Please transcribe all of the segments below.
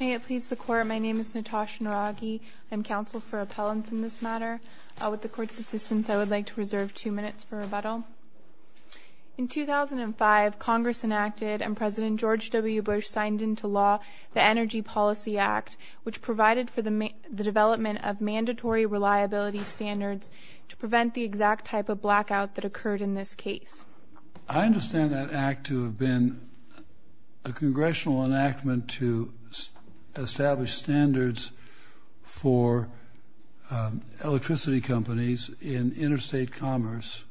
May it please the Court, my name is Natasha Naragi. I am counsel for appellants in this matter. With the Court's assistance, I would like to reserve two minutes for rebuttal. In 2005, Congress enacted, and President George W. Bush signed into law, the Energy Policy Act, which provided for the development of mandatory reliability standards to prevent the exact type of blackout that occurred in this case. I understand that act to have been a congressional enactment to establish standards for electricity companies in interstate commerce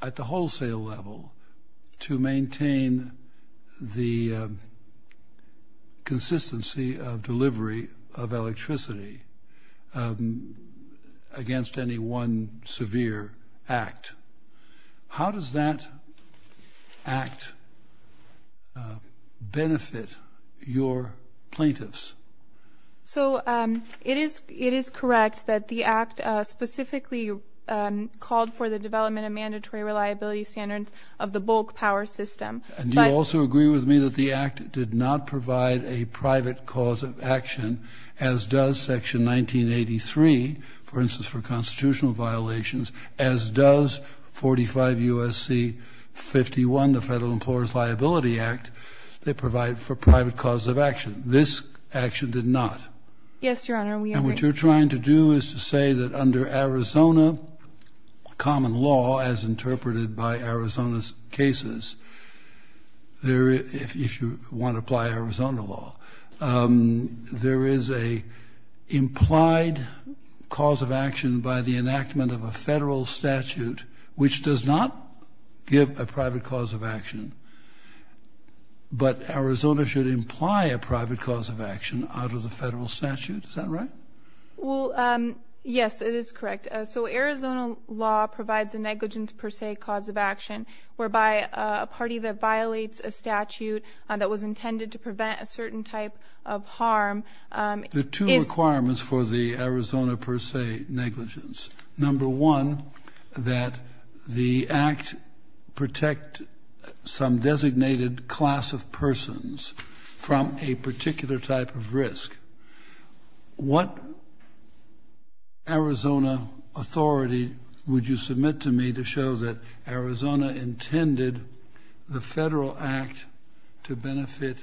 at the wholesale level to maintain the consistency of delivery of electricity against any one severe act. How does that act benefit your plaintiffs? So it is correct that the act specifically called for the development of mandatory reliability standards of the bulk power system. And you also agree with me that the act did not provide a private cause of action, as does section 1983, for instance, for constitutional violations, as does 45 U.S.C. 51, the Federal Employers' Liability Act. They provide for private causes of action. This action did not. Yes, Your Honor, we agree. And what you're trying to do is to say that under Arizona common law, as interpreted by Arizona's cases, if you want to apply Arizona law, there is a implied cause of action by the enactment of a federal statute which does not give a private cause of action. But Arizona should imply a private cause of action out of the federal statute. Is that right? Well, yes, it is correct. So Arizona law provides a negligence per se cause of action whereby a party that violates a statute that was intended to prevent a certain type of harm. There are two requirements for the Arizona per se negligence. Number one, that the act protect some designated class of persons from a particular type of risk. What Arizona authority would you submit to me to show that Arizona intended the federal act to benefit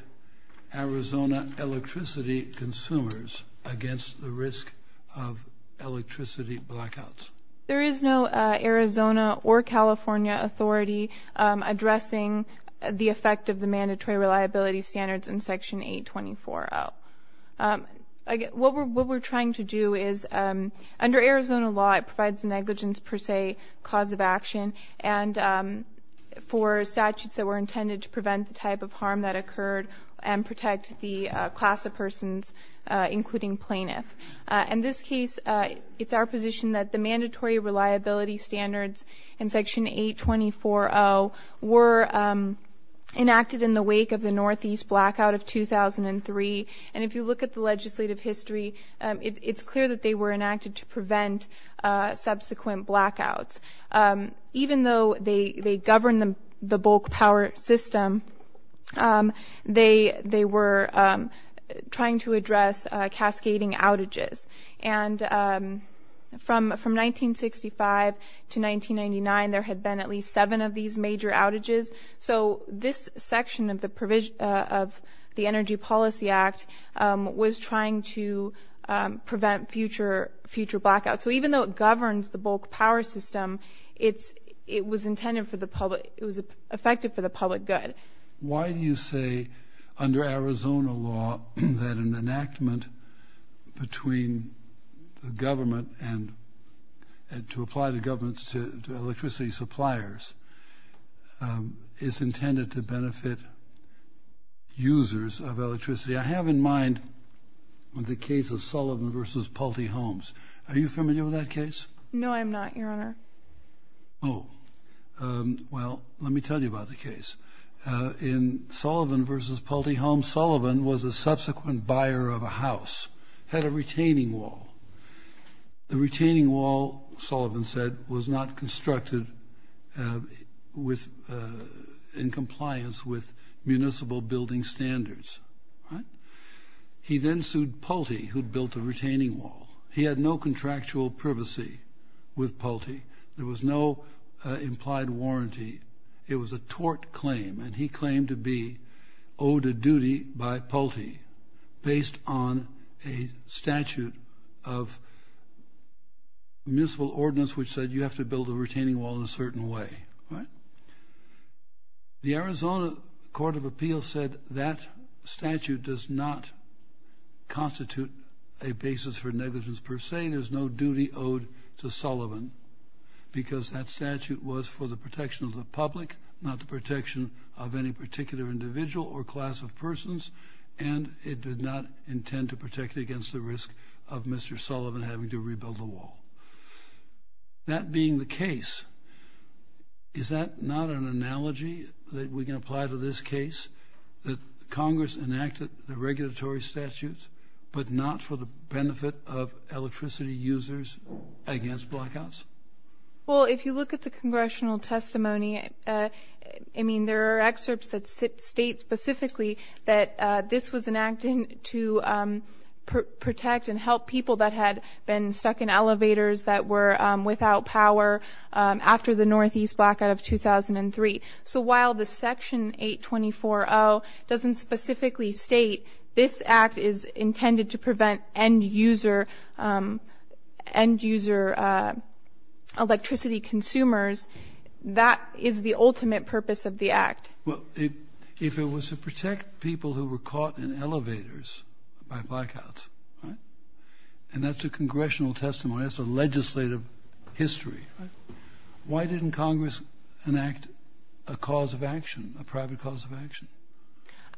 Arizona electricity consumers against the risk of electricity blackouts? There is no Arizona or California authority addressing the effect of the mandatory reliability standards in section 824-0. What we're trying to do is under Arizona law, it provides a negligence per se cause of action and for statutes that were intended to prevent the type of harm that occurred and protect the class of persons, including plaintiff. In this case, it's our position that the mandatory reliability standards in section 824-0 were enacted in the wake of the Northeast blackout of 2003. And if you look at the legislative history, it's clear that they were enacted to prevent subsequent blackouts. Even though they govern the bulk power system, they were trying to address cascading outages. And from 1965 to 1999, there had been at least seven of these major outages. So this section of the Energy Policy Act was trying to prevent future blackouts. So even though it governs the bulk power system, it was intended for the public, it was effective for the public good. Why do you say under Arizona law that an enactment between the government and to apply to governments to electricity suppliers is intended to benefit users of electricity? I have in mind the case of Sullivan v. Pulte Homes. Are you familiar with that case? No, I'm not, Your Honor. Oh, well, let me tell you about the case. In Sullivan v. Pulte Homes, Sullivan was a subsequent buyer of a house, had a retaining wall. The retaining wall, Sullivan said, was not constructed in compliance with municipal building standards. He then sued Pulte, who'd with Pulte. There was no implied warranty. It was a tort claim, and he claimed to be owed a duty by Pulte based on a statute of municipal ordinance, which said you have to build a retaining wall in a certain way, right? The Arizona Court of Appeals said that statute does not constitute a basis for negligence per se. There's no duty owed to Sullivan because that statute was for the protection of the public, not the protection of any particular individual or class of persons, and it did not intend to protect against the risk of Mr. Sullivan having to rebuild the wall. That being the case, is that not an analogy that we can apply to this case, that Congress enacted the regulatory statutes, but not for the benefit of electricity users against blackouts? Well, if you look at the congressional testimony, I mean, there are excerpts that state specifically that this was enacted to protect and help people that had been stuck in elevators that were without power after the Northeast blackout of 2003. So while the Section 824.0 doesn't specifically state this act is intended to prevent end-user electricity consumers, that is the ultimate purpose of the act. Well, if it was to protect people who were caught in elevators by blackouts, right? And that's a congressional testimony, that's a legislative history, right? Why didn't Congress enact a cause of action, a private cause of action?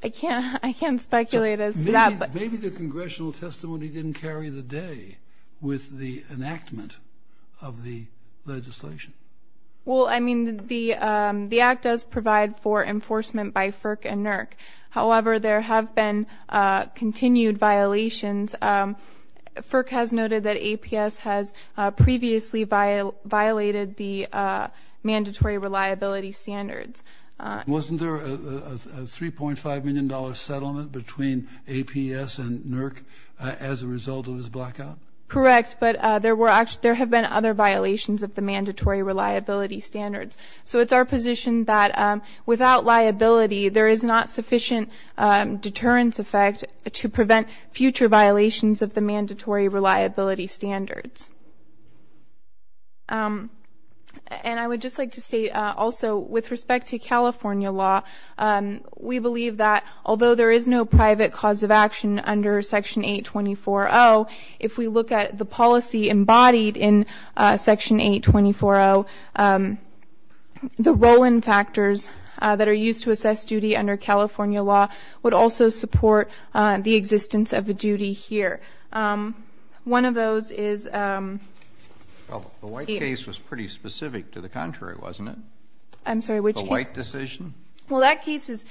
I can't speculate as to that, but... Maybe the congressional testimony didn't carry the day with the enactment of the legislation. Well, I mean, the act does provide for enforcement by FERC and NERC. However, there have been continued violations. FERC has noted that APS has previously violated the mandatory reliability standards. Wasn't there a $3.5 million settlement between APS and NERC as a result of this blackout? Correct, but there have been other violations of the mandatory reliability standards. So it's our position that without liability, there is not sufficient deterrence effect to prevent future violations of the mandatory reliability standards. And I would just like to state also, with respect to California law, we believe that although there is no private cause of action under Section 824.0, if we look at the policy the roll-in factors that are used to assess duty under California law would also support the existence of a duty here. One of those is... Well, the white case was pretty specific to the contrary, wasn't it? I'm sorry, which case? The white decision. Well, that case is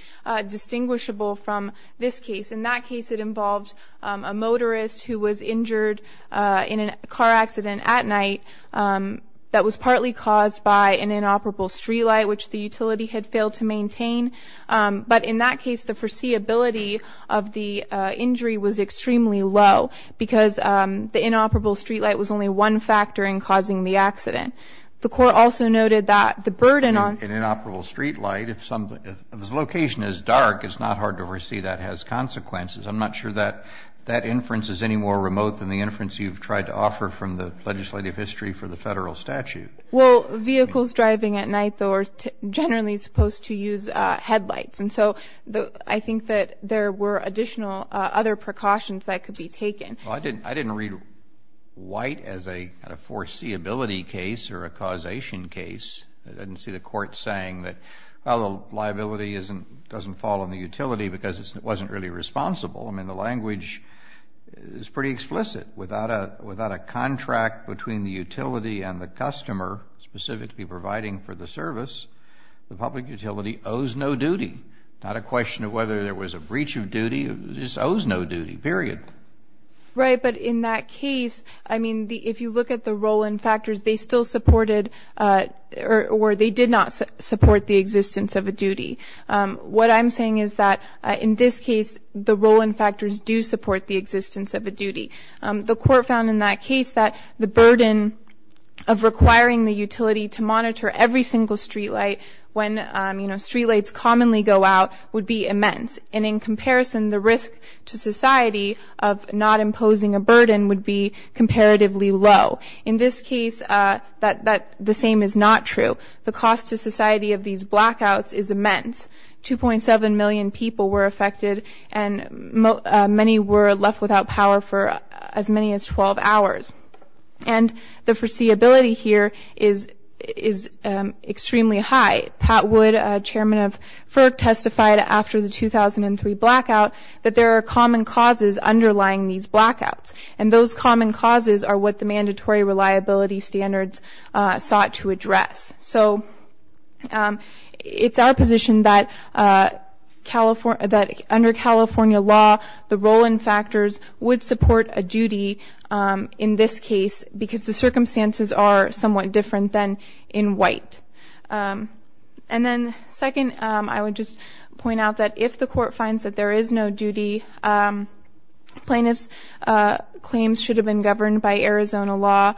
distinguishable from this case. In that case, it involved a motorist who was injured in a car accident at night that was partly caused by an inoperable street light, which the utility had failed to maintain. But in that case, the foreseeability of the injury was extremely low, because the inoperable street light was only one factor in causing the accident. The Court also noted that the burden on... An inoperable street light, if the location is dark, it's not hard to foresee that has consequences. I'm not sure that that inference is any more remote than the inference you've tried to offer from the legislative history for the Federal statute. Well, vehicles driving at night, though, are generally supposed to use headlights. And so I think that there were additional other precautions that could be taken. I didn't read white as a foreseeability case or a causation case. I didn't see the Court saying that, well, the liability doesn't fall on the utility because it wasn't really responsible. I mean, the language is pretty explicit. Without a contract between the utility and the customer specific to be providing for the service, the public utility owes no duty. Not a question of whether there was a breach of duty. This owes no duty, period. Right. But in that case, I mean, if you look at the role and factors, they still supported or they did not support the existence of a duty. What I'm saying is that in this case, the role and factors do support the existence of a duty. The Court found in that case that the burden of requiring the utility to monitor every single streetlight when streetlights commonly go out would be immense. And in comparison, the risk to society of not imposing a burden would be comparatively low. In this case, the same is not true. The cost to society of these blackouts is immense. 2.7 million people were affected and many were left without power for as many as 12 hours. And the foreseeability here is extremely high. Pat Wood, Chairman of FERC, testified after the 2003 blackout that there are common causes underlying these blackouts. And those common causes are what the mandatory reliability standards sought to address. So it's our position that California, that under California law, the role and factors would support a duty in this case because the circumstances are somewhat different than in white. And then second, I would just point out that if the Court finds that there is no duty, plaintiffs' claims should have been governed by Arizona law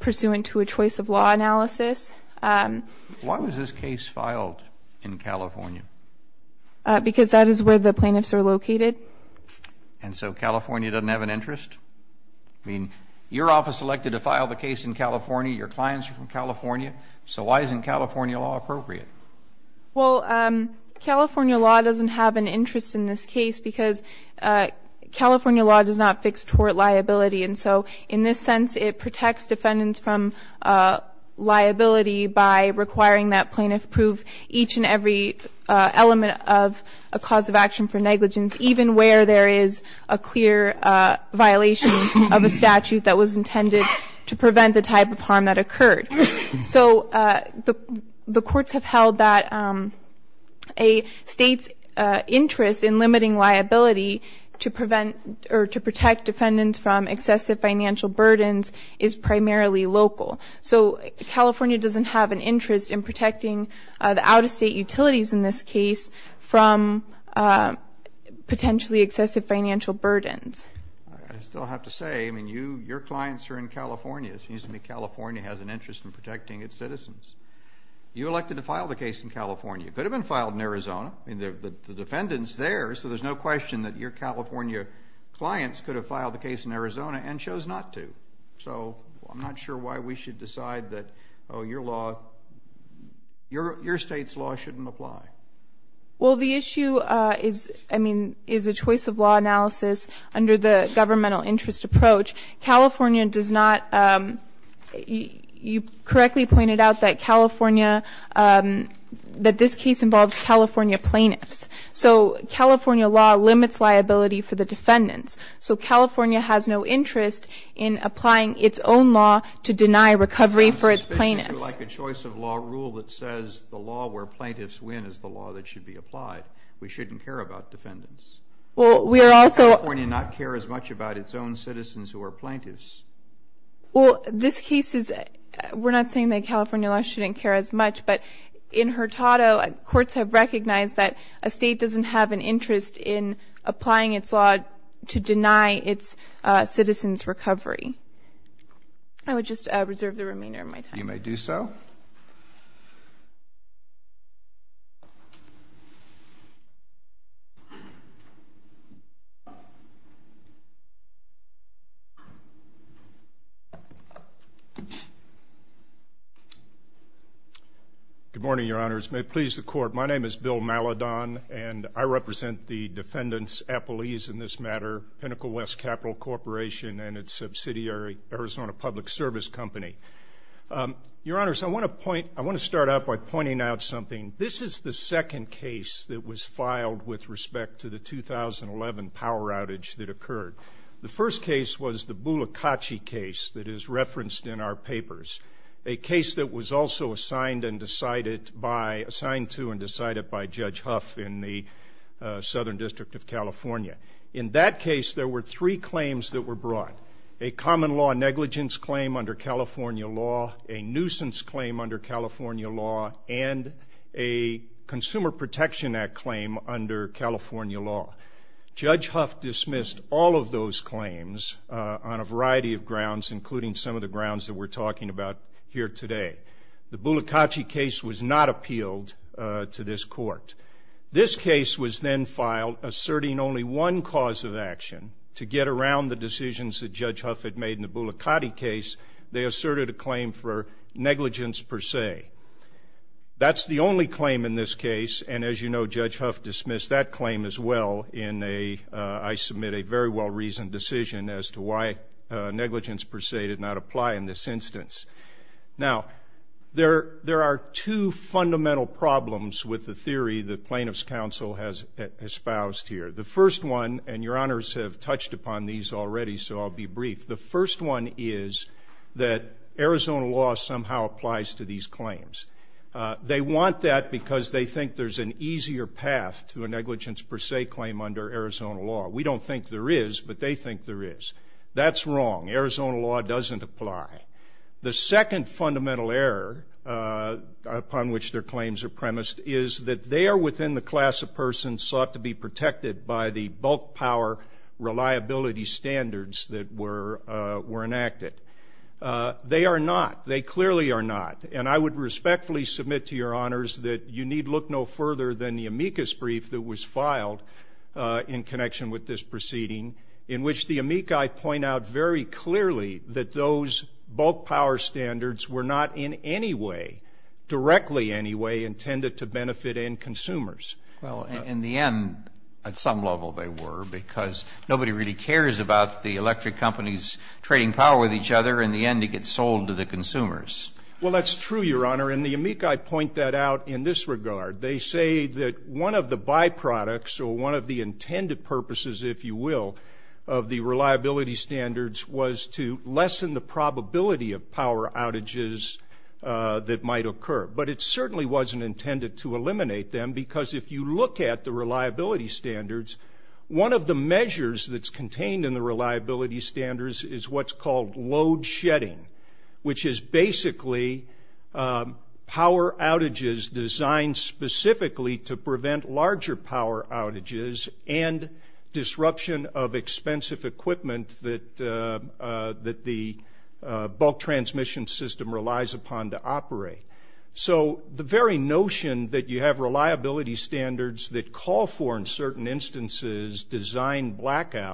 pursuant to a choice of law analysis. Why was this case filed in California? Because that is where the plaintiffs are located. And so California doesn't have an interest? I mean, your office elected to file the case in California. Your clients are from California. So why isn't California law appropriate? Well, California law doesn't have an interest in this case because California law does not fix tort liability. And so in this sense, it protects defendants from liability by requiring that plaintiff prove each and every element of a cause of action for negligence, even where there is a clear violation of a statute that was intended to prevent the type of harm that occurred. So the courts have held that a state's interest in protecting from potentially excessive financial burdens is primarily local. So California doesn't have an interest in protecting the out-of-state utilities in this case from potentially excessive financial burdens. I still have to say, I mean, your clients are in California. It seems to me California has an interest in protecting its citizens. You elected to file the case in California. It could have been filed in Arizona. I mean, the defendant's there, so there's no question that your California clients could have filed the case in Arizona and chose not to. So I'm not sure why we should decide that, oh, your law, your state's law shouldn't apply. Well, the issue is, I mean, is a choice of law analysis under the governmental interest approach. California does not, you correctly pointed out that California, that this case involves California plaintiffs. So California law limits liability for the defendants. So California has no interest in applying its own law to deny recovery for its plaintiffs. It's like a choice of law rule that says the law where plaintiffs win is the law that should be applied. We shouldn't care about defendants. Well, we are also... California not care as much about its own citizens who are plaintiffs. Well, this case is, we're not saying that California law shouldn't care as much, but in Hurtado, courts have recognized that a state doesn't have an interest in applying its law to deny its citizens recovery. I would just reserve the remainder of my time. You may do so. Good morning, your honors. May it please the court, my name is Bill Maladon and I represent the defendants' appellees in this matter, Pinnacle West Capital Corporation and its subsidiary, Arizona Public Service Company. Your honors, I want to point, I want to start out by pointing out something. This is the second case that was filed with respect to the 2011 power outage that occurred. The first case was the Bulacachi case that is referenced in our papers. A case that was also assigned and decided by, assigned to and decided by Judge Huff in the Southern District of California. In that case, there were three claims that were brought. A common law negligence claim under California law, a nuisance claim under California law, and a Consumer Protection Act claim under California law. including some of the grounds that we're talking about here today. The Bulacachi case was not appealed to this court. This case was then filed asserting only one cause of action to get around the decisions that Judge Huff had made in the Bulacachi case, they asserted a claim for negligence per se. That's the only claim in this case, and as you know, Judge Huff dismissed that claim as well in a, I submit a very well-reasoned decision as to why negligence per se did not apply in this instance. Now, there are two fundamental problems with the theory the plaintiff's counsel has espoused here. The first one, and your honors have touched upon these already, so I'll be brief. The first one is that Arizona law somehow applies to these claims. They want that because they think there's an easier path to a negligence per se claim under Arizona law. We don't think there is, but they think there is. That's wrong. Arizona law doesn't apply. The second fundamental error upon which their claims are premised is that they are within the class of person sought to be protected by the bulk power reliability standards that were enacted. They are not. They clearly are not. And I would respectfully submit to your honors that you need look no further than the amicus brief that was filed in connection with this proceeding in which the amici point out very clearly that those bulk power standards were not in any way, directly any way, intended to benefit end consumers. Well, in the end, at some level they were because nobody really cares about the electric companies trading power with each other. In the end, it gets sold to the consumers. Well, that's true, your honor, and the amici point that out in this regard. They say that one of the byproducts or one of the intended purposes, if you will, of the reliability standards was to lessen the probability of power outages that might occur, but it certainly wasn't intended to eliminate them because if you look at the reliability standards, one of the measures that's contained in the reliability standards is what's called load shedding, which is basically power outages designed specifically to prevent larger power outages and disruption of expensive equipment that the bulk transmission system relies upon to operate. So the very notion that you have reliability standards that call for, in certain instances, design blackouts on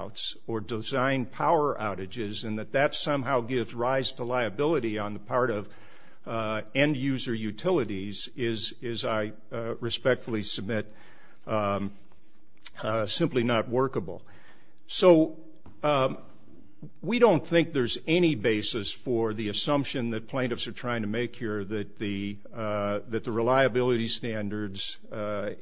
the part of end user utilities is, I respectfully submit, simply not workable. So we don't think there's any basis for the assumption that plaintiffs are trying to make here that the reliability standards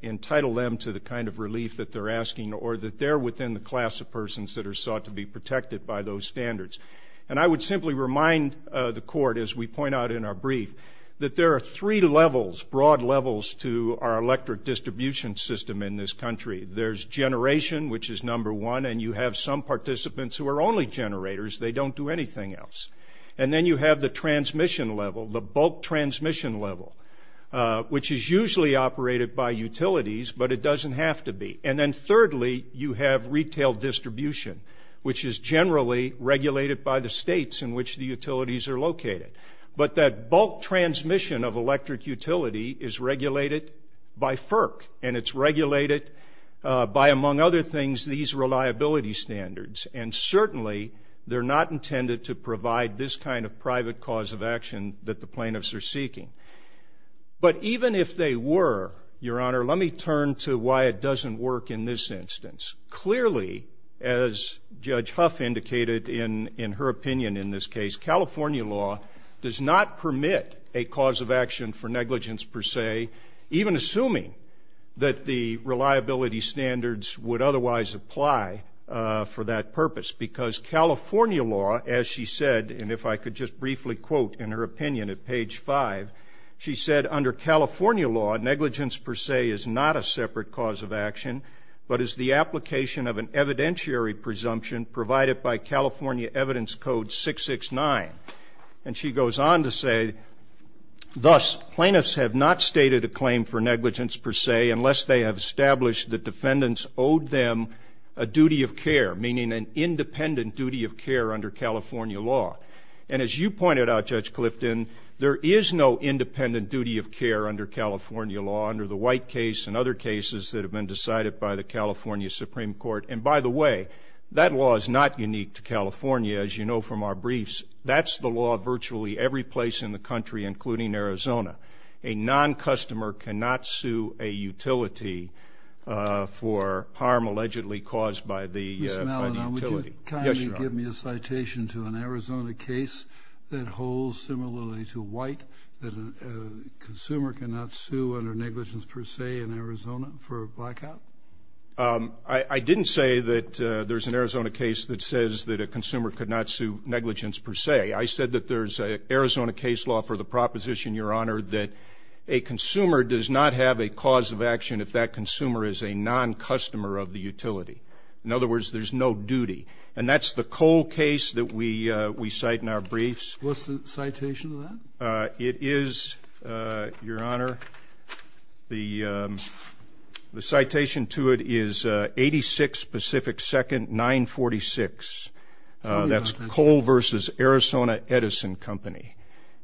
entitle them to the kind of relief that they're asking or that they're within the class of persons that are sought to be protected by those standards. And I would simply remind the court, as we point out in our brief, that there are three levels, broad levels, to our electric distribution system in this country. There's generation, which is number one, and you have some participants who are only generators, they don't do anything else. And then you have the transmission level, the bulk transmission level, which is usually operated by utilities, but it doesn't have to be. And then thirdly, you have retail distribution, which is generally regulated by the states in which the utilities are located. But that bulk transmission of electric utility is regulated by FERC, and it's regulated by, among other things, these reliability standards. And certainly, they're not intended to provide this kind of private cause of action that the plaintiffs are seeking. But even if they were, Your Honor, let me turn to why it doesn't work in this instance. Clearly, as Judge Huff indicated in her opinion in this case, California law does not permit a cause of action for negligence per se, even assuming that the reliability standards would otherwise apply for that purpose. Because California law, as she said, and if I could just briefly quote in her opinion at page five, she said, under California law, negligence per se is not a separate cause of action, but is the application of an evidentiary presumption provided by California Evidence Code 669. And she goes on to say, thus, plaintiffs have not stated a claim for negligence per se unless they have established that defendants owed them a duty of care, meaning an independent duty of care under California law. And as you pointed out, Judge Clifton, there is no independent duty of care under California law under the White case and other cases that have been decided by the California Supreme Court. And by the way, that law is not unique to California, as you know from our briefs. That's the law virtually every place in the country, including Arizona. A non-customer cannot sue a utility for harm allegedly caused by the utility. Mr. Malinow, would you kindly give me a citation to an Arizona case that holds similarly to White, that a consumer could not sue negligence per se in Arizona for a blackout? I didn't say that there's an Arizona case that says that a consumer could not sue negligence per se. I said that there's an Arizona case law for the proposition, Your Honor, that a consumer does not have a cause of action if that consumer is a non-customer of the utility. In other words, there's no duty. And that's the Cole case that we cite in our briefs. What's the citation of that? It is, Your Honor, the citation to it is 86 Pacific Second 946. That's Cole versus Arizona Edison Company.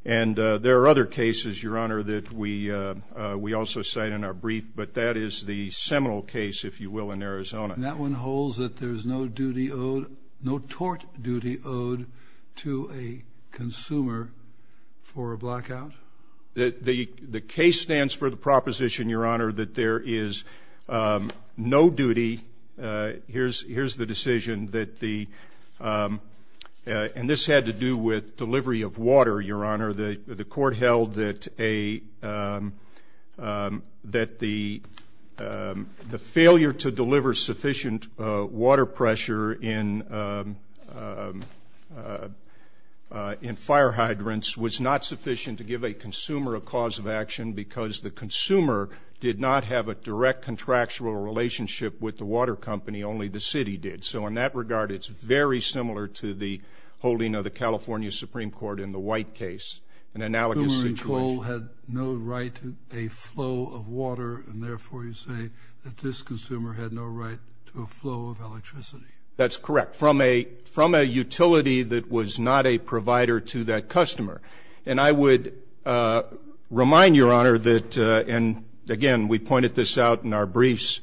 And there are other cases, Your Honor, that we also cite in our brief, but that is the Seminole case, if you will, in Arizona. And that one holds that there's no duty owed, no tort duty owed to a consumer for a blackout? The case stands for the proposition, Your Honor, that there is no duty. Here's the decision that the and this had to do with delivery of water, Your Honor. The court held that a the failure to deliver sufficient water pressure in in fire hydrants was not sufficient to give a consumer a cause of action because the consumer did not have a direct contractual relationship with the water company, only the city did. So in that regard, it's very similar to the holding of the California Supreme Court in the White case, an analogous situation. Cole had no right to a flow of water, and therefore, you say that this consumer had no right to a flow of electricity? That's correct. From a utility that was not a provider to that customer. And I would remind Your Honor that, and again, we pointed this out in our briefs,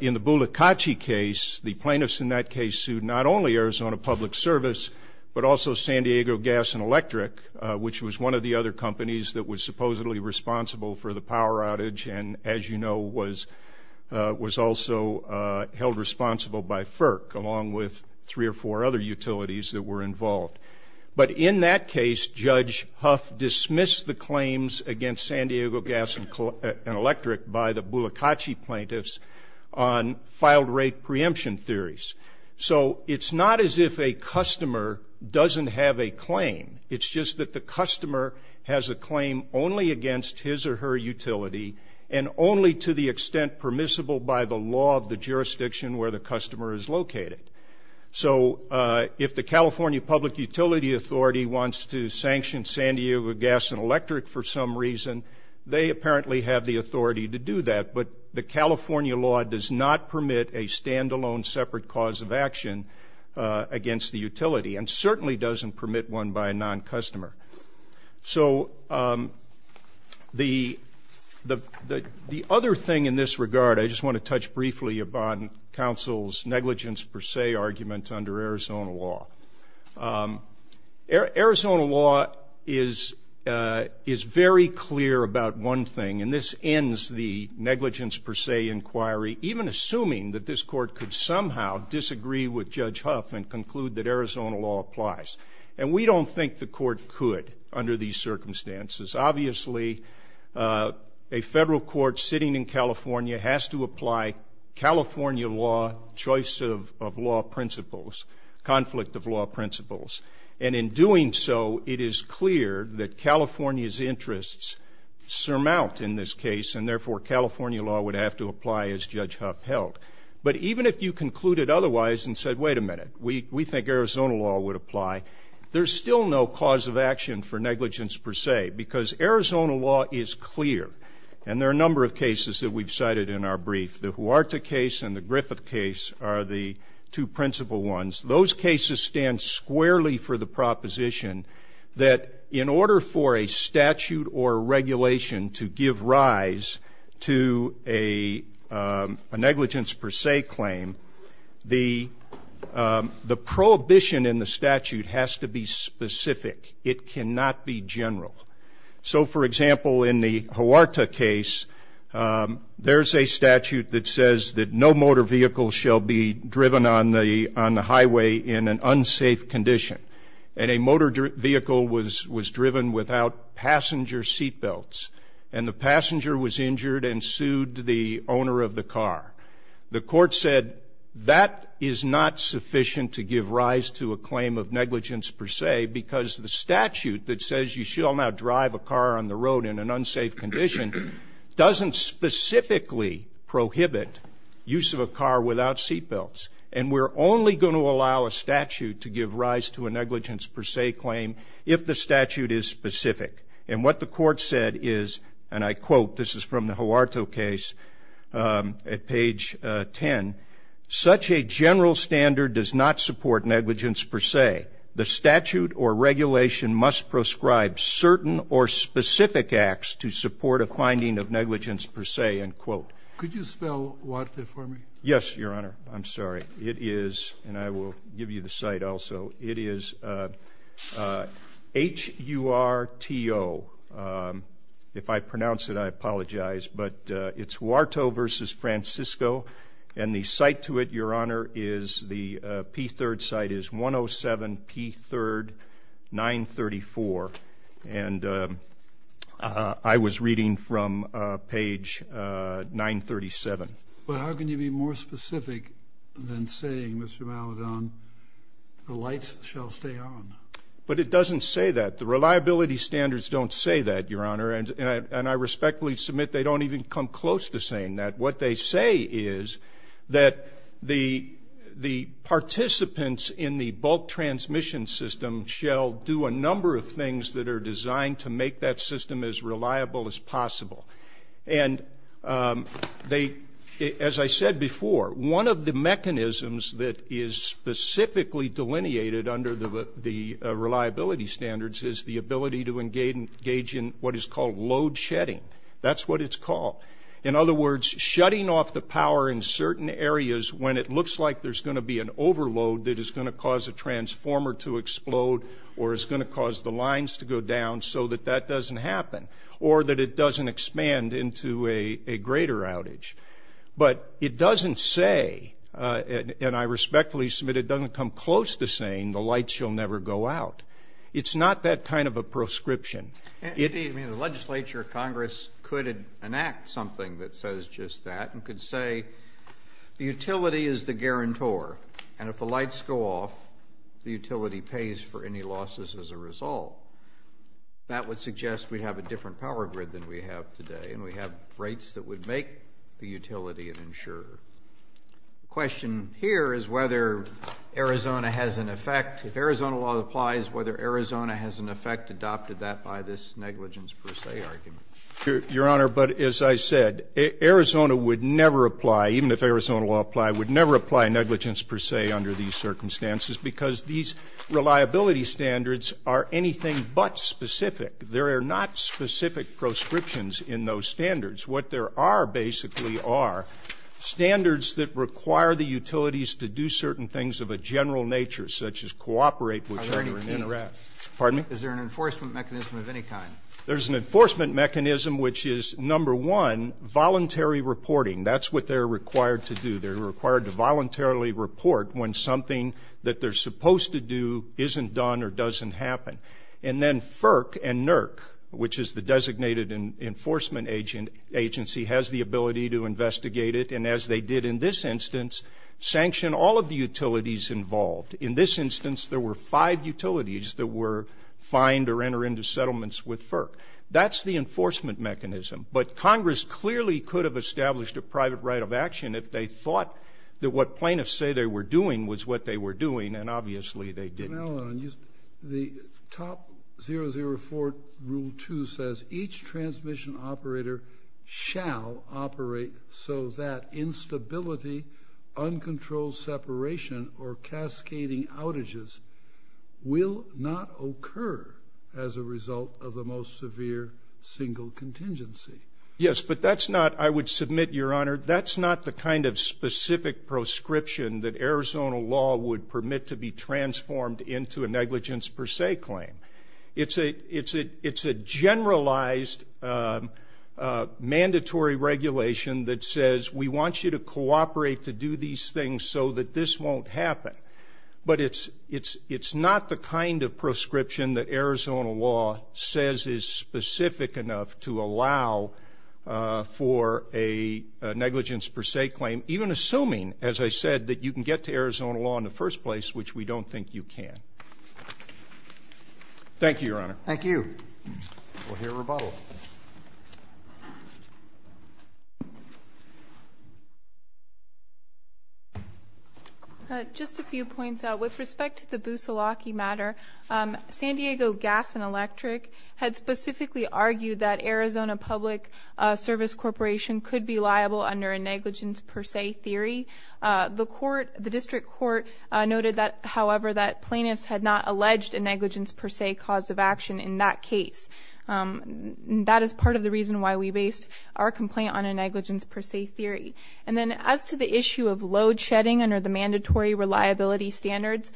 in the Bulacachi case, the plaintiffs in that case sued not only Arizona Public Service, but also San Diego Gas and Electric, which was one of the other companies that was supposedly responsible for the power outage, and as you know, was also held responsible by FERC, along with three or four other utilities that were involved. But in that case, Judge Huff dismissed the claims against San Diego Gas and Electric by the Bulacachi plaintiffs on filed rate preemption theories. So it's not as if a customer doesn't have a claim. It's just that the customer has a claim only against his or her utility, and only to the extent permissible by the law of the jurisdiction where the customer is located. So if the California Public Utility Authority wants to sanction San Diego Gas and Electric for some reason, they apparently have the authority to do that, but the California law does not permit a stand-alone separate cause of action against the utility, and certainly doesn't permit one by a non-customer. So the other thing in this regard, I just want to touch briefly upon counsel's negligence per se argument under Arizona law. Arizona law is very clear about one thing, and this ends the negligence per se inquiry, even assuming that this court could somehow disagree with Judge Huff and conclude that Arizona law applies. And we don't think the court could under these circumstances. Obviously a federal court sitting in California has to apply California law choice of law principles, conflict of law principles. And in doing so, it is clear that California's interests surmount in this case, and therefore California law would have to apply as Judge Huff held. But even if you concluded otherwise and said, wait a minute, we think Arizona law would apply, there's still no cause of action for negligence per se, because Arizona law is clear. And there are a number of cases that we've cited in our brief. The Huerta case and the Griffith case are the two principal ones. Those cases stand squarely for the proposition that in order for a statute or regulation to give rise to a negligence per se claim, the prohibition in the statute has to be specific. It cannot be general. So, for example, in the Huerta case, there's a statute that says that no motor vehicle shall be driven on the highway in an unsafe condition. And a motor vehicle was driven without passenger seat belts. And the passenger was injured and sued the owner of the car. The court said that is not sufficient to give rise to a claim of negligence per se. A statute that says you shall not drive a car on the road in an unsafe condition doesn't specifically prohibit use of a car without seat belts. And we're only going to allow a statute to give rise to a negligence per se claim if the statute is specific. And what the court said is, and I quote, this is from the Huerta case at page 10, such a general standard does not support a finding of negligence per se, end quote. Could you spell Huerta for me? Yes, Your Honor. I'm sorry. It is, and I will give you the site also. It is H-U-R-T-O. If I pronounce it, I apologize. But it's Huerta versus Francisco. And the site to it, Your Honor, is the P3rd site is 107 P3rd 934. And I was reading from page 937. But how can you be more specific than saying Mr. Maladon, the lights shall stay on? But it doesn't say that. The reliability standards don't say that, Your Honor. And I respectfully submit they don't even come close to saying that. What they say is that the participants in the bulk transmission system shall do a number of things that are designed to make that system as reliable as possible. And they, as I said before, one of the mechanisms that is specifically delineated under the reliability standards is the ability to engage in what is called load shedding. That's what it's called. In other words, shutting off the power in certain areas when it looks like there's going to be an overload that is going to cause a transformer to explode or is going to cause the lines to go down so that that doesn't happen or that it doesn't expand into a greater outage. But it doesn't say, and I respectfully submit it doesn't come close to saying the lights shall never go out. It's not that kind of a proscription. Congress could enact something that says just that and could say the utility is the guarantor and if the lights go off the utility pays for any losses as a result. That would suggest we'd have a different power grid than we have today and we have rates that would make the utility an insurer. The question here is whether Arizona has an effect. If Arizona law applies, whether Arizona has an effect adopted that by this negligence per se argument. Your Honor, but as I said Arizona would never apply, even if Arizona law applied, would never apply negligence per se under these circumstances because these reliability standards are anything but specific. There are not specific proscriptions in those standards. What there are basically are standards that require the utilities to do certain things of a general nature such as cooperate. Is there an enforcement mechanism of any kind? There's an enforcement mechanism which is number one, voluntary reporting. That's what they're required to do. They're required to voluntarily report when something that they're supposed to do isn't done or doesn't happen. And then FERC and NERC, which is the Designated Enforcement Agency has the ability to investigate it and as they did in this instance sanction all of the utilities involved. In this instance there were five utilities that were fined or enter into settlements with FERC. That's the enforcement mechanism. But Congress clearly could have established a private right of action if they thought that what plaintiffs say they were doing was what they were doing and obviously they didn't. The top 004 rule 2 says each transmission operator shall operate so that instability, uncontrolled separation or cascading outages will not occur as a result of the most severe single contingency. Yes, but that's not, I would submit Your Honor, that's not the kind of specific proscription that Arizona law would permit to be transformed into a negligence per se claim. It's a generalized mandatory regulation that says we want you to cooperate to do these things so that this won't happen. But it's not the kind of proscription that Arizona law says is specific enough to allow for a negligence per se claim, even assuming, as I said, that you can get to Arizona law in the first place, which we don't think you can. Thank you, Your Honor. Thank you. We'll hear rebuttal. Thank you. Just a few points. With respect to the Busulaki matter, San Diego Gas and Electric had specifically argued that Arizona Public Service Corporation could be liable under a negligence per se theory. The District Court noted that, however, that plaintiffs had not alleged a negligence per se cause of action in that and that is part of the reason why we based our complaint on a negligence per se theory. And then as to the issue of load shedding under the mandatory reliability standards,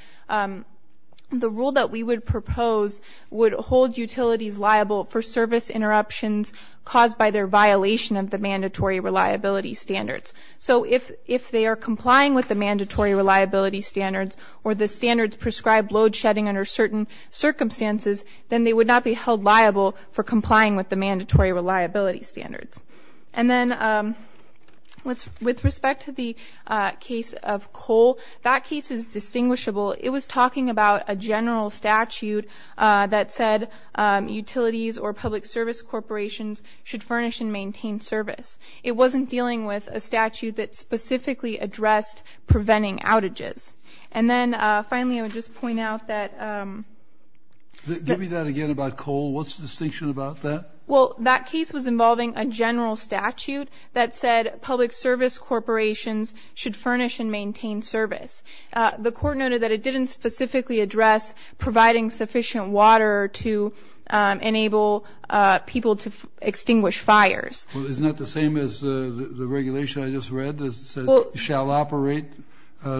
the rule that we would propose would hold utilities liable for service interruptions caused by their violation of the mandatory reliability standards. So if they are complying with the mandatory reliability standards or the standards prescribe load shedding under certain circumstances, then they would not be held liable for complying with the mandatory reliability standards. And then with respect to the case of coal, that case is distinguishable. It was talking about a general statute that said utilities or public service corporations should furnish and maintain service. It wasn't dealing with a statute that specifically addressed preventing outages. And then finally, I would just point out that Give me that again about coal. What's the distinction about that? Well, that case was involving a general statute that said public service corporations should furnish and maintain service. The court noted that it didn't specifically address providing sufficient water to enable people to extinguish fires. Well, isn't that the same as the regulation I just read that said shall operate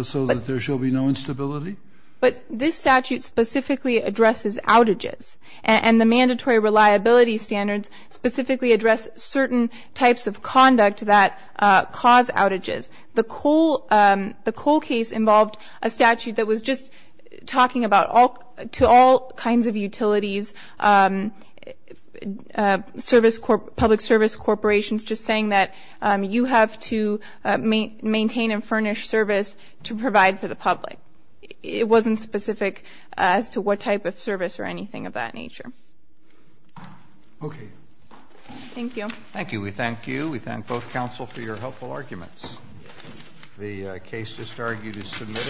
so that there shall be no instability? But this statute specifically addresses outages. And the mandatory reliability standards specifically address certain types of conduct that cause outages. The coal case involved a statute that was just talking about to all kinds of utilities public service corporations just saying that you have to maintain and furnish service to provide for the public. It wasn't specific as to what type of service or anything of that nature. Thank you. Thank you. We thank you. We thank both counsel for your helpful arguments. The case just argued is submitted.